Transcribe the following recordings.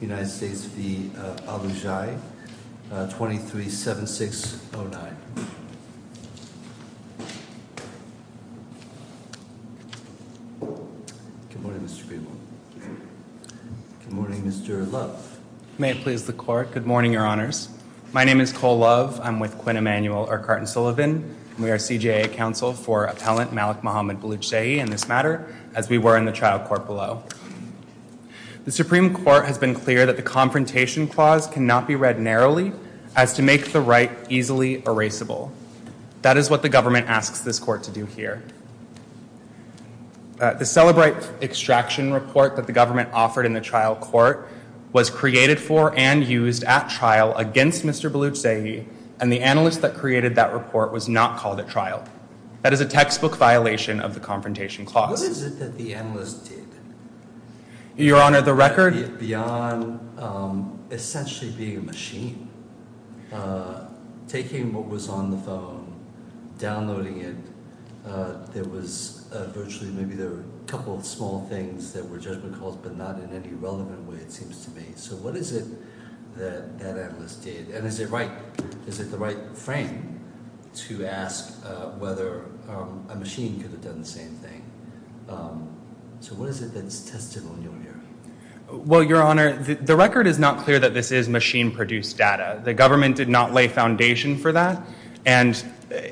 United States v. Balouchzehi 237609. Good morning Mr. Greenwald. Good morning Mr. Love. May it please the court. Good morning your honors. My name is Cole Love. I'm with Quinn Emanuel or Carton Sullivan. We are CJA counsel for appellant Malik Mohammed Balouchzehi in this matter as we were in the trial court below. The Supreme Court has been clear that the confrontation clause cannot be read narrowly as to make the right easily erasable. That is what the government asks this court to do here. The Celebrate Extraction report that the government offered in the trial court was created for and used at trial against Mr. Balouchzehi and the analyst that created that report was not called at trial. That is a textbook violation of the confrontation clause. What is it that the analyst did? Your honor the record? Beyond essentially being a machine, taking what was on the phone, downloading it, there was virtually maybe there were a couple of small things that were judgment calls but not in any relevant way it seems to me. So what is it that that analyst did and is it right, is it the right frame to ask whether a machine could have done the same thing? So what is it that is testable in your view? Well your honor the record is not clear that this is machine produced data. The government did not lay foundation for that and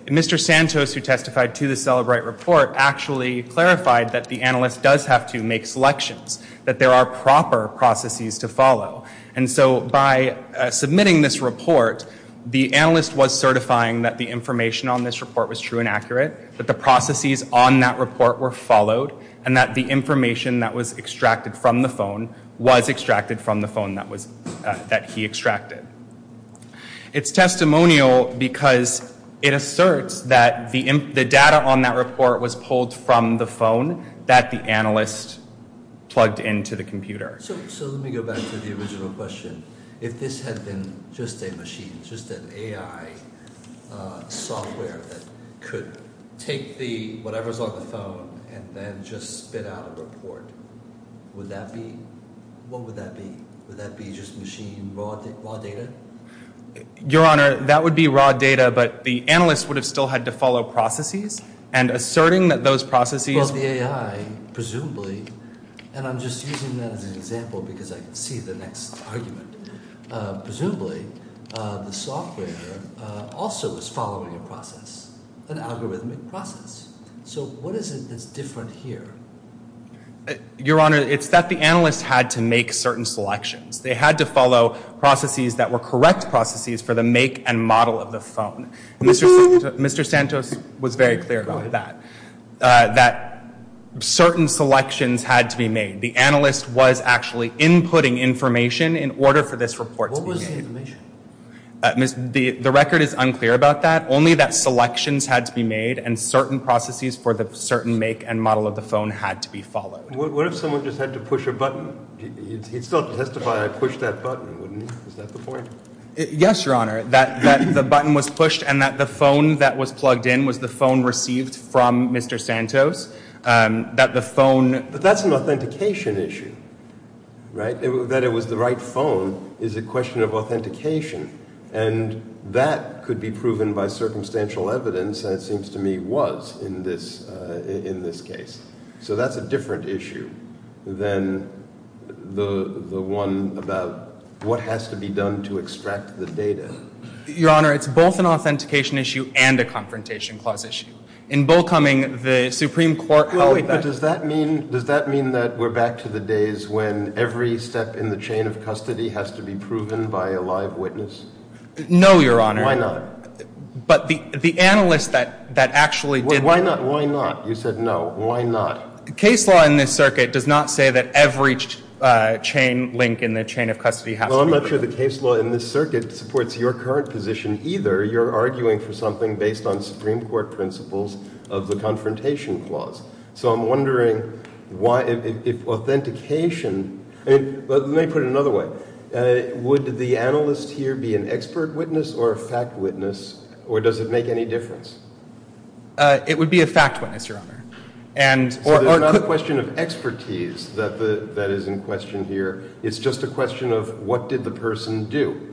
Mr. Santos who testified to the Celebrate report actually clarified that the analyst does have to make selections, that there are proper processes to follow and so by submitting this report the analyst was certifying that the information on this report was true and accurate, that the processes on that report were followed and that the information that was extracted from the phone was extracted from the phone that was that he extracted. It's testimonial because it asserts that the data on that report was pulled from the phone that the analyst plugged into the computer. So let me go back to the original question. If this had been just a machine, just an AI software that could take the whatever's on the phone and then just spit out a report, would that be, what would that be? Would that be just machine raw data? Your honor that would be raw data but the analyst would have still had to follow processes and asserting that those processes. Well the AI presumably and I'm just using that as an example because I can see the next argument. Presumably the software also is following a process, an algorithmic process. So what is it that's different here? Your honor it's that the analyst had to make certain selections. They had to follow processes that were correct processes for the make and model of the phone. Mr. Santos was very clear about that. That certain selections had to be made. The analyst was actually inputting information in order for this report to be made. What was the information? The record is unclear about that. Only that selections had to be made and certain processes for the certain make and model of the phone had to be followed. What if someone just had to push a button? He'd still have to testify I pushed that button, wouldn't he? Is that the point? Yes your honor. That the button was pushed and that the phone that was plugged in was the phone received from Mr. Santos. But that's an authentication issue, right? That it was the right phone is a question of authentication and that could be proven by circumstantial evidence and it seems to me was in this case. So that's a different issue than the one about what has to be done to extract the data. Your honor it's both an authentication issue and a confrontation clause issue. In Bull Cumming, the Supreme Court held that. Does that mean that we're back to the days when every step in the chain of custody has to be proven by a live witness? No your honor. Why not? But the analyst that actually did that. Why not? You said no. Why not? Case law in this circuit does not say that every chain link in the chain of custody has to be proven. Well I'm not sure the case law in this circuit supports your current position either. You're arguing for something based on Supreme Court principles of the confrontation clause. So I'm wondering why if authentication, let me put it another way. Would the analyst here be an expert witness or a fact witness or does it make any difference? It would be a fact witness your honor. So there's not a question of expertise that is in question here. It's just a question of what did the person do?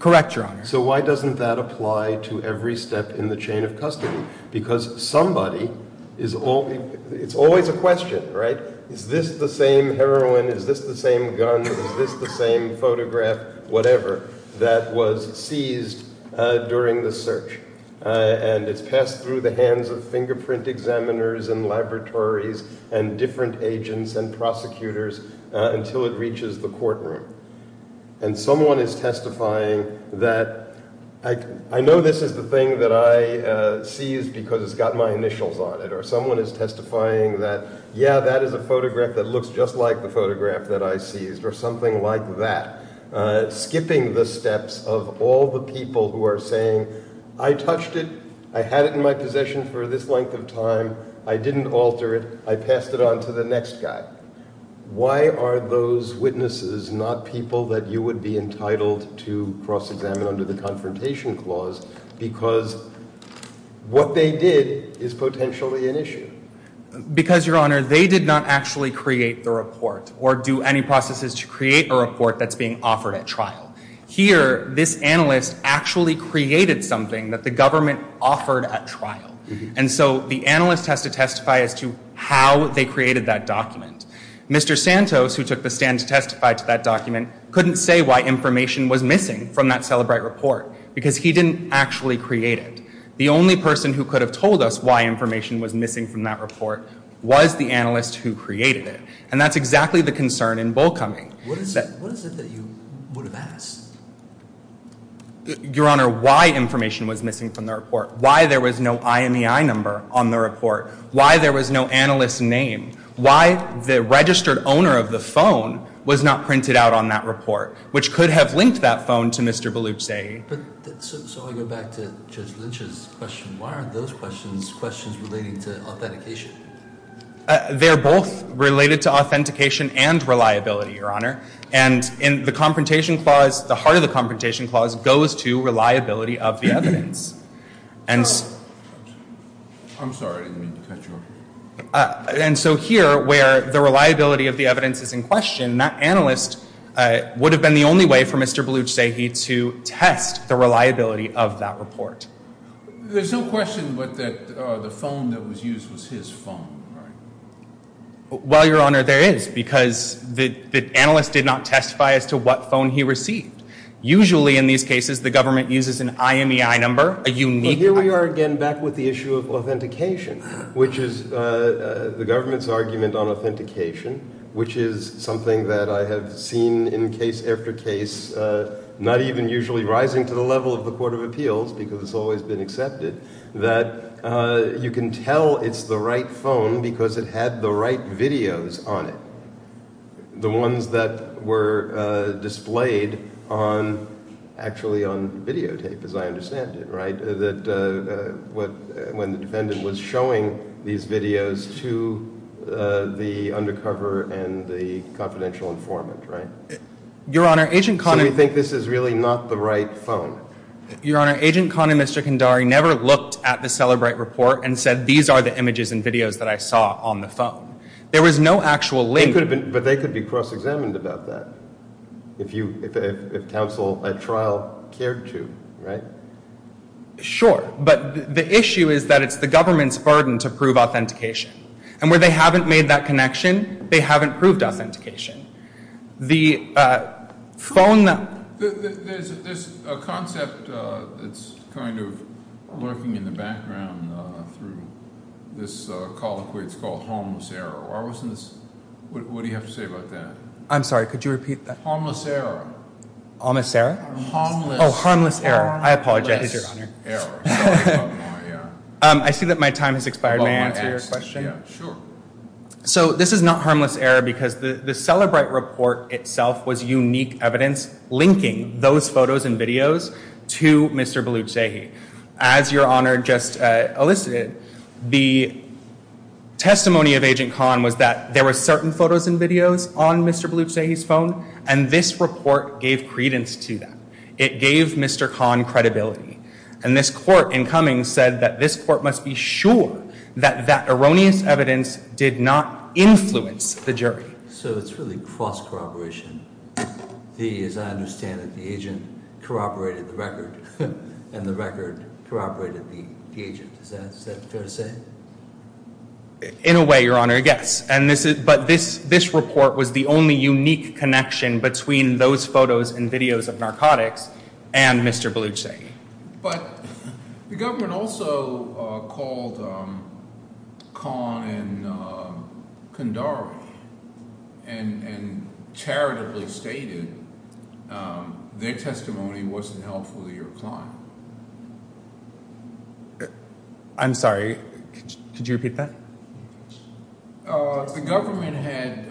Correct your honor. So why doesn't that apply to every step in the chain of custody? Because somebody, it's always a question, right? Is this the same heroine? Is this the same gun? Is this the same photograph, whatever, that was seized during the search? And it's passed through the hands of fingerprint examiners and laboratories and different agents and prosecutors until it reaches the courtroom. And someone is testifying that I know this is the thing that I seized because it's got my initials on it. Or someone is testifying that yeah that is a photograph that looks just like the photograph that I seized or something like that. Skipping the steps of all the people who are saying I touched it, I had it in my possession for this length of time, I didn't alter it, I passed it on to the next guy. Why are those witnesses not people that you would be entitled to cross examine under the confrontation clause because what they did is potentially an issue? Because your honor, they did not actually create the report or do any processes to create a report that's being offered at trial. Here, this analyst actually created something that the government offered at trial. And so the analyst has to testify as to how they created that document. Mr. Santos, who took the stand to testify to that document, couldn't say why information was missing from that Celebrite report because he didn't actually create it. The only person who could have told us why information was missing from that report was the analyst who created it. And that's exactly the concern in Bullcoming. What is it that you would have asked? Your honor, why information was missing from the report, why there was no IMEI number on the report, why there was no analyst's name, why the registered owner of the phone was not printed out on that report, which could have linked that phone to Mr. Belucci. So I go back to Judge Lynch's question. Why are those questions questions relating to authentication? They're both related to authentication and reliability, your honor. And in the confrontation clause, the heart of the confrontation clause goes to reliability of the evidence. And so here, where the reliability of the evidence is in question, that analyst would have been the only way for Mr. Belucci to test the reliability of that report. There's no question that the phone that was used was his phone, right? Well, your honor, there is, because the analyst did not testify as to what phone he received. Usually in these cases, the government uses an IMEI number, a unique IMEI number. Well, here we are again back with the issue of authentication, which is the government's argument on authentication, which is something that I have seen in case after case, not even usually rising to the level of the Court of Appeals, because it's always been accepted, that you can tell it's the right phone because it had the right videos on it. The ones that were displayed on, actually on videotape, as I understand it, right? When the defendant was showing these videos to the undercover and the confidential informant, right? Your honor, Agent Conn... So you think this is really not the right phone? Your honor, Agent Conn and Mr. Kandari never looked at the Celebrate report and said, these are the images and videos that I saw on the phone. There was no actual link. But they could be cross-examined about that, if you, if counsel at trial cared to, right? Sure, but the issue is that it's the government's burden to prove authentication. And where they haven't made that connection, they haven't proved authentication. The phone... There's a concept that's used that's kind of lurking in the background through this colloquy. It's called harmless error. Why wasn't this... What do you have to say about that? I'm sorry, could you repeat that? Harmless error. Harmless error. Oh, harmless error. I apologize, your honor. I see that my time has expired. May I answer your question? Yeah, sure. So this is not harmless error because the Celebrate report itself was unique evidence linking those photos and videos to Mr. Balochsehi. As your honor just elicited, the testimony of Agent Kahn was that there were certain photos and videos on Mr. Balochsehi's phone, and this report gave credence to that. It gave Mr. Kahn credibility. And this court in Cummings said that this court must be sure that that erroneous evidence did not influence the jury. So it's really cross-corroboration. The, as I understand it, the agent corroborated the record, and the record corroborated the agent. Is that fair to say? In a way, your honor, yes. But this report was the only unique connection between those photos and videos of narcotics and Mr. Balochsehi. But the government also called Kahn and Kandari, and charitably called Mr. Kahn and Mr. Balochsehi, and Mr. Kandari charitably stated their testimony wasn't helpful to your client. I'm sorry, could you repeat that? The government had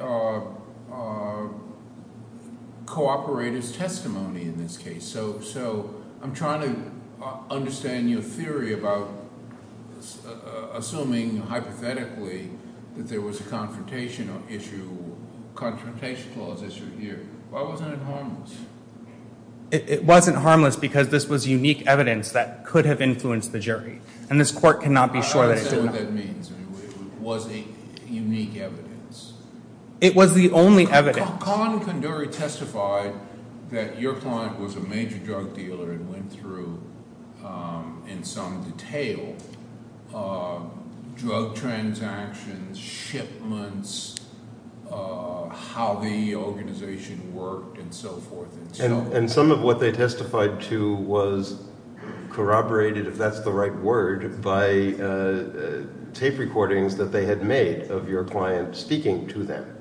cooperated as testimony in this case. So I'm trying to understand your theory about assuming hypothetically that there was a confrontation issue, confrontation clause issue here. Why wasn't it harmless? It wasn't harmless because this was unique evidence that could have influenced the jury. And this court cannot be sure that it did not. I understand what that means. It was unique evidence. It was the only evidence. Kahn and Kandari testified that your client was a major drug dealer and went through in some detail drug transactions, shipments, how the organization worked, and so forth. And some of what they testified to was corroborated, if that's the right word, by tape recordings that they had made of your client speaking to them.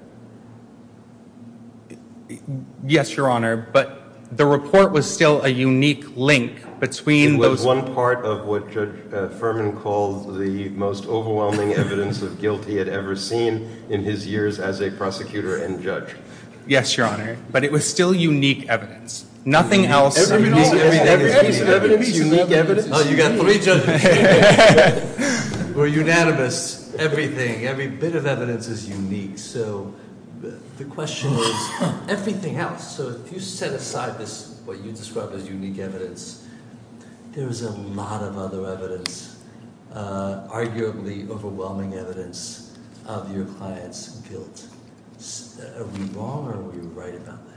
Yes, your honor, but the report was still a unique link between those... It was one part of what Judge Furman called the most overwhelming evidence of guilt he had ever seen in his years as a prosecutor and judge. Yes, your honor, but it was still unique evidence. Nothing else... Oh, you got three judges. We're unanimous. Everything, every bit of evidence is unique. So the question is everything else. So if you set aside this, what you describe as unique evidence, there is a lot of other evidence, arguably overwhelming evidence of your client's guilt. Are we wrong or are we right about that?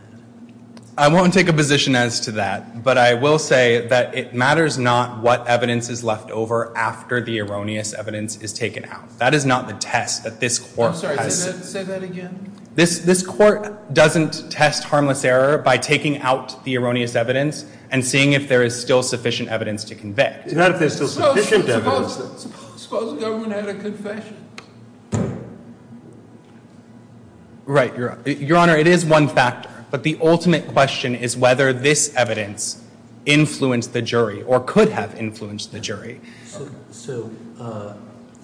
I won't take a position as to that, but I will say that it matters not what evidence is left over after the erroneous evidence is taken out. That is not the test that this court has... I'm sorry, say that again. This court doesn't test harmless error by taking out the erroneous evidence and seeing if there is still sufficient evidence to convict. Not if there is still sufficient evidence. Suppose the government had a confession. Right, your honor, it is one factor, but the ultimate question is whether this evidence influenced the jury or could have influenced the jury. So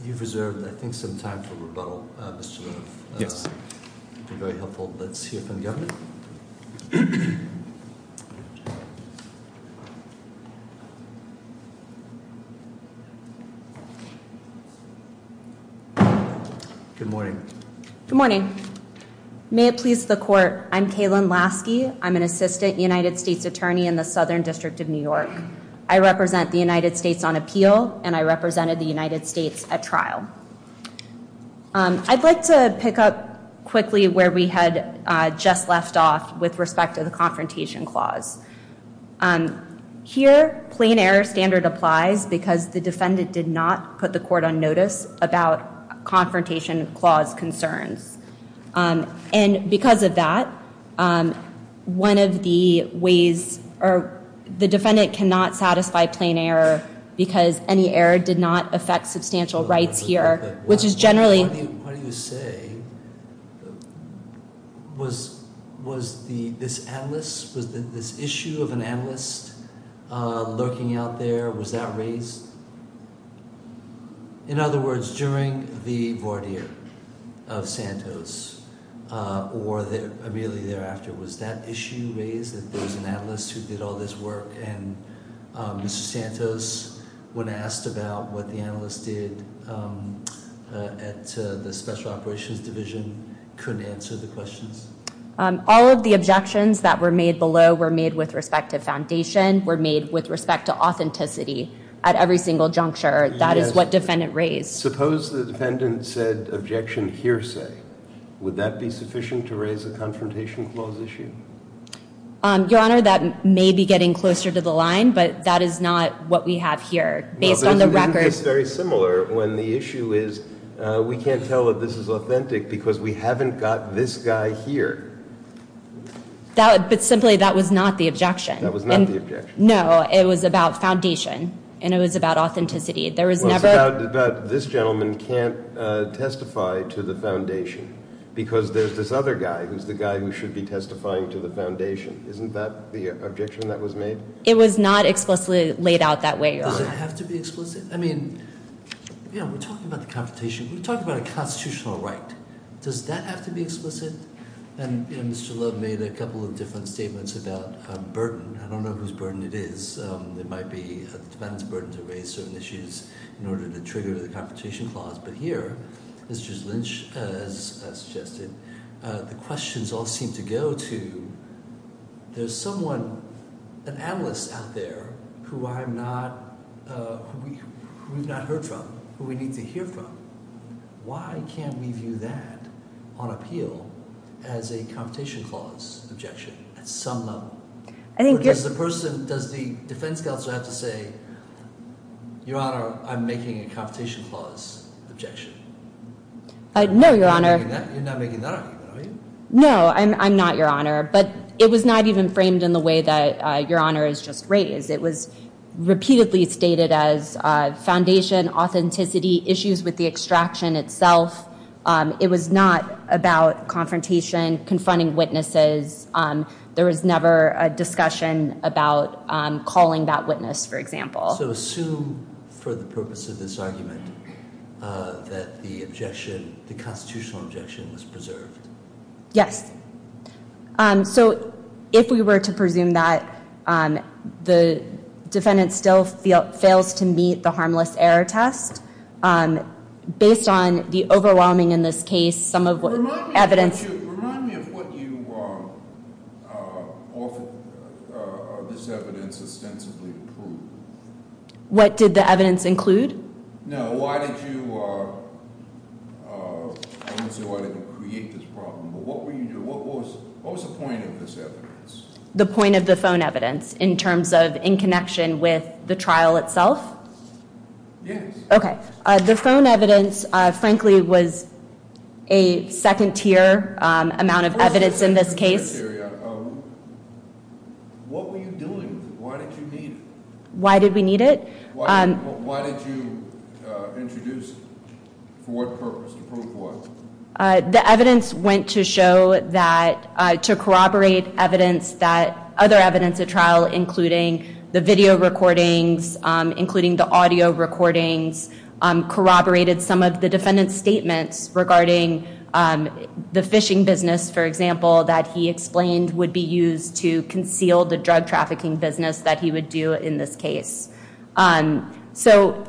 you've reserved, I think, some time for rebuttal, Mr. Roof. Very helpful. Let's hear from the government. Good morning. Good morning. May it please the court, I'm Kaylin Lasky. I'm an assistant United States attorney in the Southern District of New York. I represent the United States on appeal and I represented the United States at trial. I'd like to pick up quickly where we had just left off with respect to the Confrontation Clause. Here, plain error standard applies because the defendant did not put the court on notice about Confrontation Clause concerns. And because of that, one of the ways, or the defendant cannot satisfy plain error because any error did not affect substantial rights here, which is generally... What do you say? Was this analyst, was this issue of an analyst lurking out there, was that raised? In other words, during the voir dire of Santos, or immediately thereafter, was that issue raised? That there was an analyst who did all this work and Mr. Santos, when asked about what the analyst did at the Special Operations Division, couldn't answer the questions? All of the objections that were made below were made with respect to foundation, were made with respect to authenticity at every single juncture. That is what defendant raised. Suppose the defendant said objection hearsay. Would that be sufficient to raise a Confrontation Clause issue? Your Honor, that may be getting closer to the line, but that is not what we have here. Based on the record... It's similar when the issue is, we can't tell that this is authentic because we haven't got this guy here. But simply, that was not the objection. That was not the objection. No, it was about foundation, and it was about authenticity. Well, it's about this gentleman can't testify to the foundation, because there's this other guy who's the guy who should be testifying to the foundation. Isn't that the objection that was made? It was not explicitly laid out that way, Your Honor. Does it have to be explicit? I mean, we're talking about the Confrontation. We're talking about a constitutional right. Does that have to be explicit? And Mr. Love made a couple of different statements about burden. I don't know whose burden it is. It might be the defendant's burden to raise certain issues in order to trigger the Confrontation Clause. But here, Mr. Lynch has suggested, the questions all seem to go to, there's someone, an analyst out there who I'm not, who we've not heard from, who we need to hear from. Why can't we view that on appeal as a Confrontation Clause objection at some level? Because the person, does the defense counsel have to say, Your Honor, I'm making a Confrontation Clause objection? No, Your Honor. You're not making that argument, are you? No, I'm not, Your Honor. But it was not even framed in the way that Your Honor has just raised. It was repeatedly stated as foundation, authenticity, issues with the extraction itself. It was not about confrontation, confronting witnesses. There was never a discussion about calling that witness, for example. So assume, for the purpose of this argument, that the objection, the constitutional objection was preserved. Yes. So if we were to presume that, the defendant still fails to meet the harmless error test, based on the overwhelming, in this case, some of the evidence... Remind me of what you offered, of this evidence, ostensibly proved. What did the evidence include? No, why did you, I don't see why you didn't create this problem, but what were you, what was the point of this evidence? The point of the phone evidence, in terms of in connection with the trial itself? Yes. Okay. The phone evidence, frankly, was a second tier amount of evidence in this case. What were you doing? Why did you need it? Why did we need it? Why did you introduce it? For what purpose? The evidence went to show that, to corroborate evidence that other evidence at trial, including the video recordings, including the audio recordings, corroborated some of the defendant's statements regarding the fishing business, for example, that he explained would be used to conceal the drug trafficking business that he would do in this case. So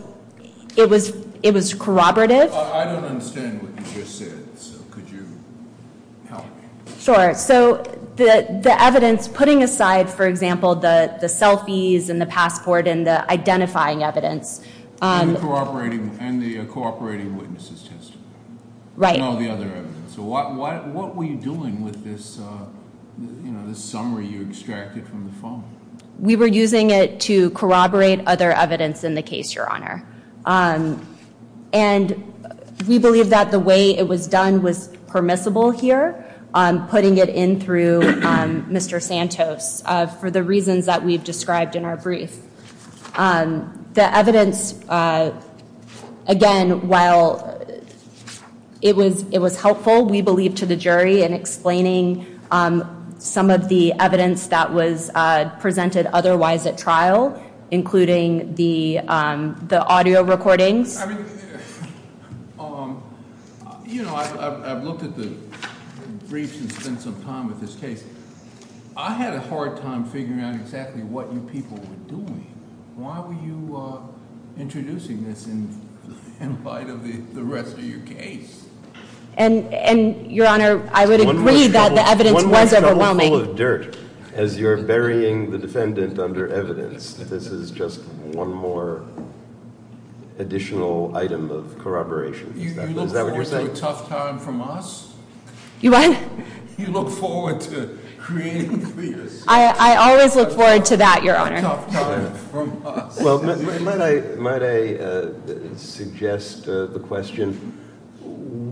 it was corroborative. I don't understand what you just said, so could you help me? Sure. So the evidence, putting aside, for example, the selfies and the passport and the identifying evidence. And the cooperating witnesses testimony. Right. And all the other evidence. So what were you doing with this, this summary you extracted from the phone? We were using it to corroborate other evidence in the case, Your Honor. And we believe that the way it was done was permissible here, putting it in through Mr. Santos for the reasons that we've described in our brief. The evidence, again, while it was it was helpful, we believe to the jury and explaining some of the evidence that was presented otherwise at trial, including the the audio recordings. You know, I've looked at the briefs and spent some time with this case. I had a hard time figuring out exactly what you people were doing. Why were you introducing this in light of the rest of your case? And Your Honor, I would agree that the evidence was overwhelming. One more shovel full of dirt as you're burying the defendant under evidence. This is just one more additional item of corroboration. Is that what you're saying? You look forward to a tough time from us? You what? You look forward to creating clear sentences. I always look forward to that, Your Honor. Might I suggest the question,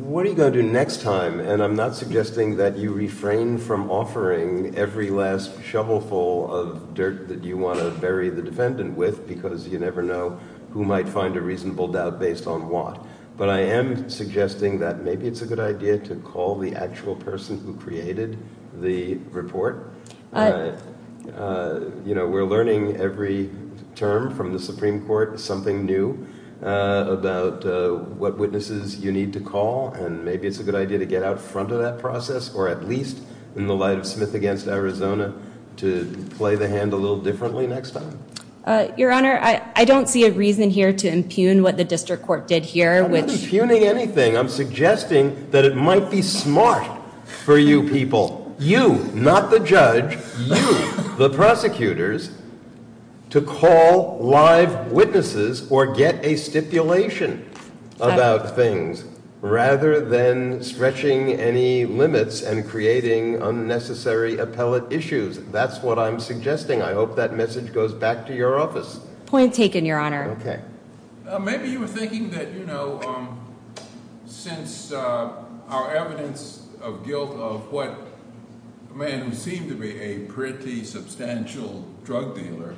what are you going to do next time? And I'm not suggesting that you refrain from offering every last shovel full of dirt that you want to bury the defendant with because you never know who might find a reasonable doubt based on what. But I am suggesting that maybe it's a good idea to call the actual person who created the report. You know, we're learning every term from the Supreme Court, something new about what witnesses you need to call. And maybe it's a good idea to get out front of that process or at least in the light of Smith against Arizona to play the hand a little differently next time. Your Honor, I don't see a reason here to impugn what the District Court did here. I'm not impugning anything. I'm suggesting that it might be smart for you people, you, not the judge, you, the prosecutors, to call live witnesses or get a stipulation about things rather than stretching any limits and creating unnecessary appellate issues. That's what I'm suggesting. I hope that message goes back to your office. Point taken, Your Honor. Okay. Maybe you were thinking that, you know, since our evidence of guilt of what may seem to be a pretty substantial drug dealer,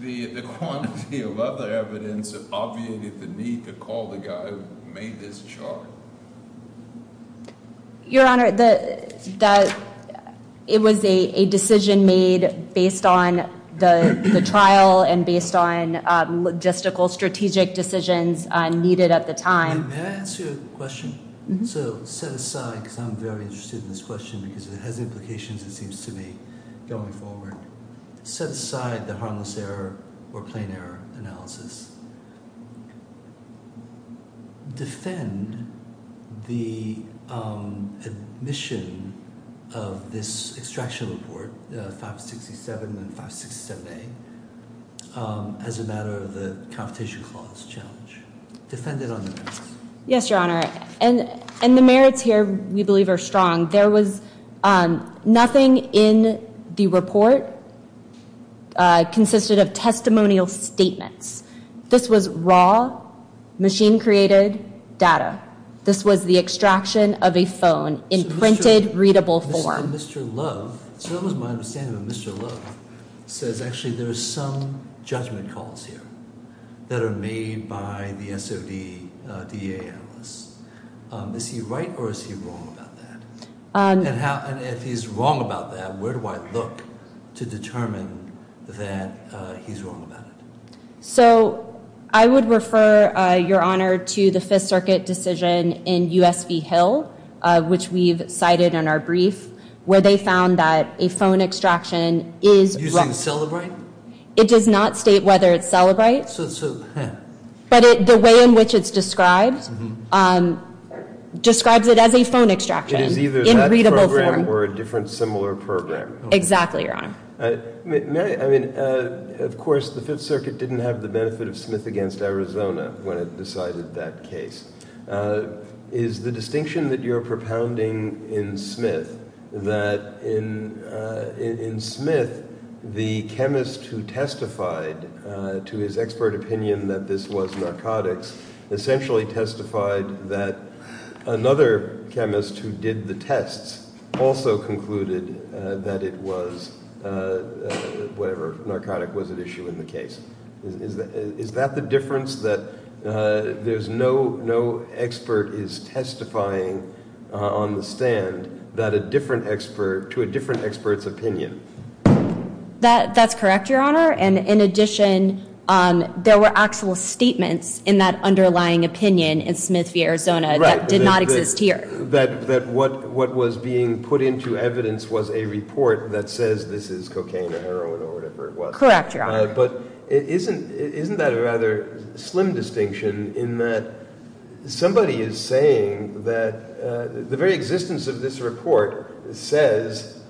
the quantity of other evidence obviated the need to call the guy who made this charge. Your Honor, it was a decision made based on the trial and based on logistical strategic decisions needed at the time. May I ask you a question? So set aside, because I'm very interested in this question because it has implications, it seems to me, going forward. Set aside the harmless error or plain error analysis. Defend the admission of this extraction report, 567 and 567A, as a matter of the competition clause challenge. Defend it on the merits. Yes, Your Honor. And the merits here, we believe, are strong. There was nothing in the report consisted of testimonial statements. This was raw, machine-created data. This was the extraction of a phone in printed, readable form. Mr. Love, as far as my understanding of Mr. Love, says actually there are some judgment calls here that are made by the SOD DA analyst. Is he right or is he wrong about that? And if he's wrong about that, where do I look to determine that he's wrong about it? So I would refer, Your Honor, to the Fifth Circuit decision in U.S.V. Hill, which we've cited in our brief, where they found that a phone extraction is using Cellebrite? It does not state whether it's Cellebrite. But the way in which it's described, describes it as a phone extraction. It is either that program or a different, similar program. Exactly, Your Honor. Of course, the Fifth Circuit didn't have the benefit of Smith v. Arizona when it decided that case. Is the distinction that you're propounding in Smith, that in Smith, the chemist who testified to his expert opinion that this was narcotics, essentially testified that another chemist who did the tests also concluded that it was, whatever narcotic was at issue in the case. Is that the difference that there's no expert is testifying on the stand that a different expert, to a different expert's opinion? That's correct, Your Honor. And in addition, there were actual statements in that underlying opinion in Smith v. Arizona that did not exist here. That what was being put into evidence was a report that says this is cocaine or heroin or whatever it was. Correct, Your Honor. But isn't that a rather slim distinction in that somebody is saying that the very existence of this report says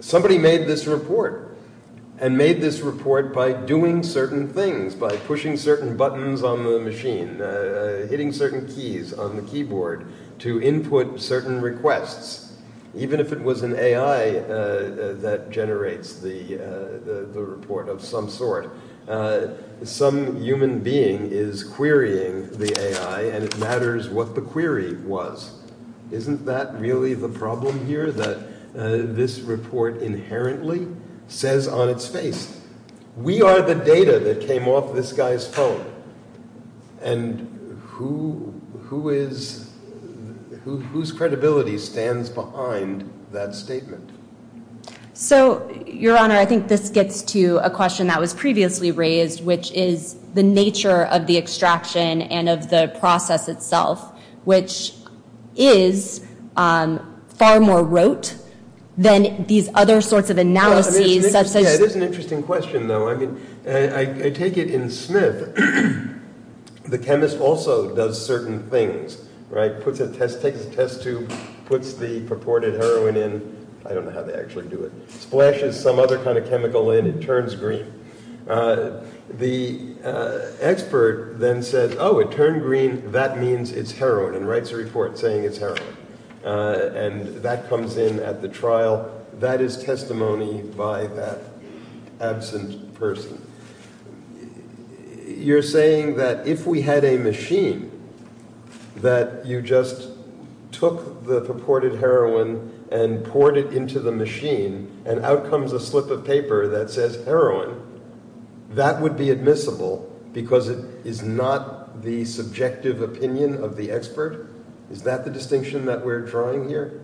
somebody made this report and made this report by doing certain things, by pushing certain buttons on the machine, hitting certain keys on the keyboard to input certain requests, even if it was an AI that generates the report of some sort. Some human being is querying the AI and it matters what the query was. Isn't that really the problem here that this report inherently says on its face, we are the data that came off this guy's phone. And who is, whose credibility stands behind that statement? So, Your Honor, I think this gets to a question that was previously raised, which is the nature of the extraction and of the process itself, which is far more rote than these other sorts of analyses. It is an interesting question, though. I take it in Smith, the chemist also does certain things, right? Puts a test, takes a test tube, puts the purported heroin in. I don't know how they actually do it. Splashes some other kind of chemical in, it turns green. The expert then says, oh, it turned green. That means it's heroin and writes a report saying it's heroin. And that comes in at the trial. That is testimony by that absent person. You're saying that if we had a machine that you just took the purported heroin and poured it into the machine and out comes a slip of paper that says heroin, that would be admissible because it is not the subjective opinion of the expert? Is that the distinction that we're drawing here?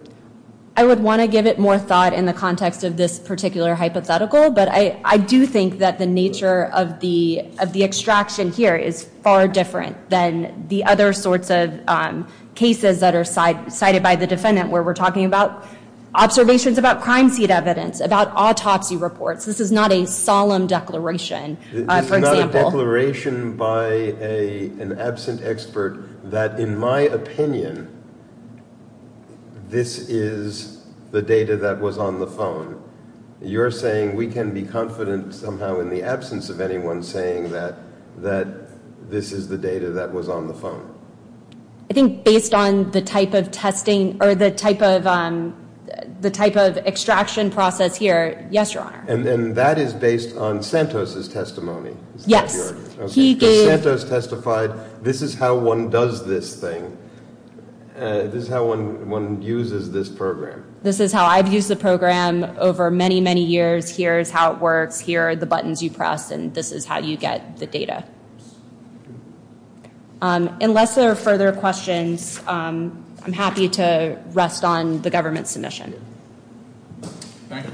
I would want to give it more thought in the context of this particular hypothetical, but I do think that the nature of the extraction here is far different than the other sorts of cases that are cited by the defendant where we're talking about observations about crime scene evidence, about autopsy reports. This is not a solemn declaration. This is not a declaration by an absent expert that in my opinion this is the data that was on the phone. You're saying we can be confident somehow in the absence of anyone saying that this is the data that was on the phone. I think based on the type of testing or the type of extraction process here, yes, Your Honor. And that is based on Santos' testimony? Yes. Santos testified this is how one does this thing. This is how one uses this program. This is how I've used the program over many, many years. Here's how it works. Here are the buttons you press and this is how you get the data. Unless there are further questions, I'm happy to rest on the government's submission. Thank you.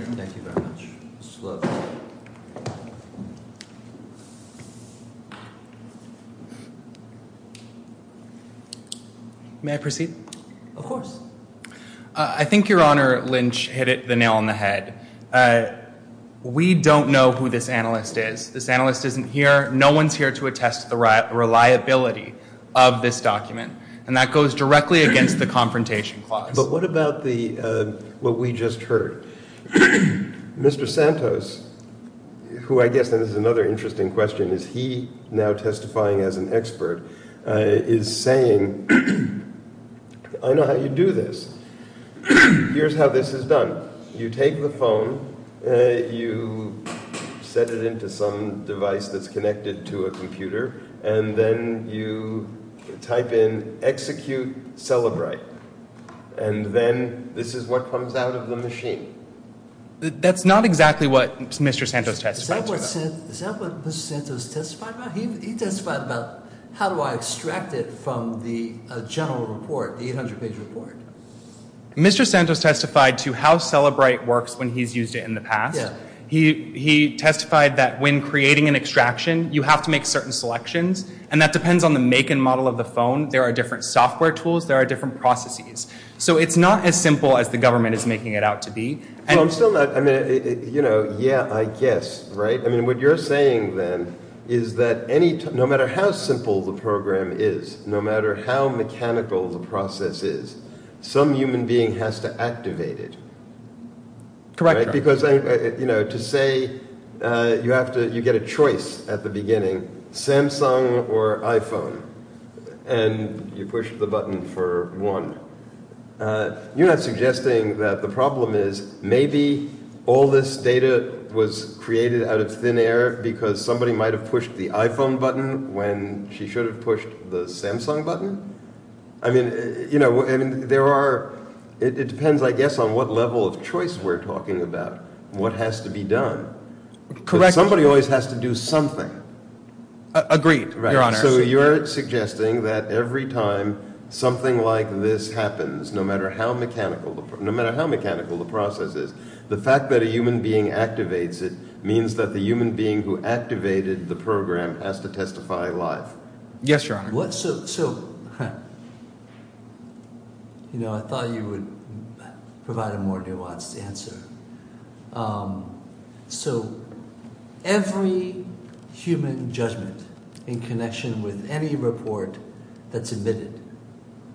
May I proceed? Of course. I think Your Honor Lynch hit it the nail on the head. We don't know who this analyst is. This analyst isn't here. No one's here to attest to the reliability of this document. And that goes directly against the confrontation clause. But what about the what we just heard? Mr. Santos, who I guess that is another interesting question, is he now testifying as an expert, is saying, I know how you do this. Here's how this is done. You take the phone, you set it into some device that's connected to a computer, and then you type in, execute, celebrate. And then this is what comes out of the machine. That's not exactly what Mr. Santos testified about. Is that what Mr. Santos testified about? He testified about how do I extract it from the general report, the 800-page report. Mr. Santos testified to how celebrate works when he's used it in the past. He testified that when creating an extraction, you have to make certain selections. And that depends on the make and model of the phone. There are different software tools. There are different processes. So it's not as simple as the government is making it out to be. So I'm still not, you know, yeah, I guess, right? I mean, what you're saying then is that no matter how simple the program is, no matter how mechanical the process is, some human being has to activate it. Correct. Because, you know, to say you have to, you get a choice at the beginning, Samsung or iPhone, and you push the button for one. You're not suggesting that the problem is maybe all this data was created out of thin air because somebody might have pushed the iPhone button when she should have pushed the Samsung button? I mean, you know, there are, it depends, I guess, on what level of choice we're talking about, what has to be done. Correct. Somebody always has to do something. Agreed, Your Honor. So you're suggesting that every time something like this happens, no matter how mechanical, no matter how mechanical the process is, the fact that a human being activates it means that the human being who activated the program has to testify live. Yes, Your Honor. So, you know, I thought you would provide a more nuanced answer. So every human judgment in connection with any report that's admitted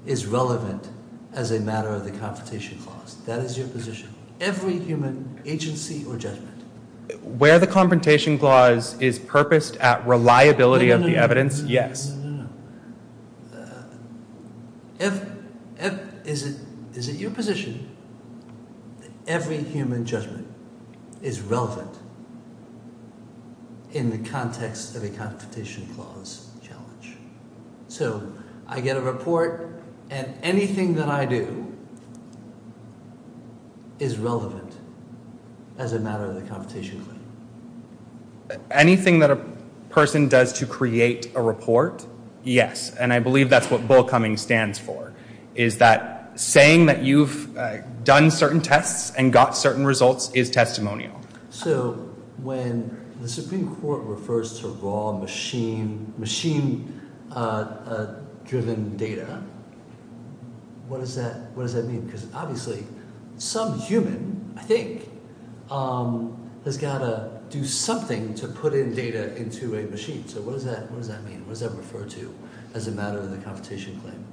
is relevant as a matter of the Confrontation Clause. That is your position. Every human agency or judgment. Where the Confrontation Clause is purposed at reliability of the evidence, yes. Is it your position that every human judgment is relevant in the context of a Confrontation Clause challenge? So I get a report and anything that I do is relevant as a matter of the Confrontation Clause. Anything that a person does to create a report, yes. And I believe that's what bullcumming stands for, is that saying that you've done certain tests and got certain results is testimonial. So when the Supreme Court refers to raw machine driven data, what does that mean? Because obviously some human, I think, has got to do something to put in data into a machine. So what does that mean? What does that refer to as a matter of the Confrontation Claim?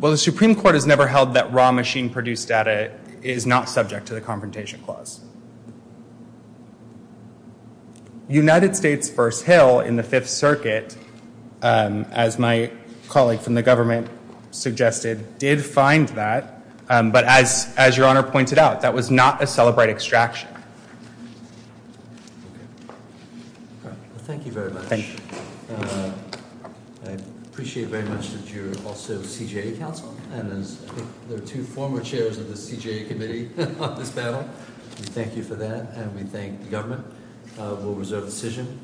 Well, the Supreme Court has never held that raw machine produced data is not subject to the Confrontation Clause. The executive circuit, as my colleague from the government suggested, did find that. But as your Honor pointed out, that was not a celebrate extraction. Thank you very much. I appreciate very much that you're also CJA counsel. And there are two former chairs of the CJA committee on this battle. Thank you for that. And we thank the government. We'll reserve the decision.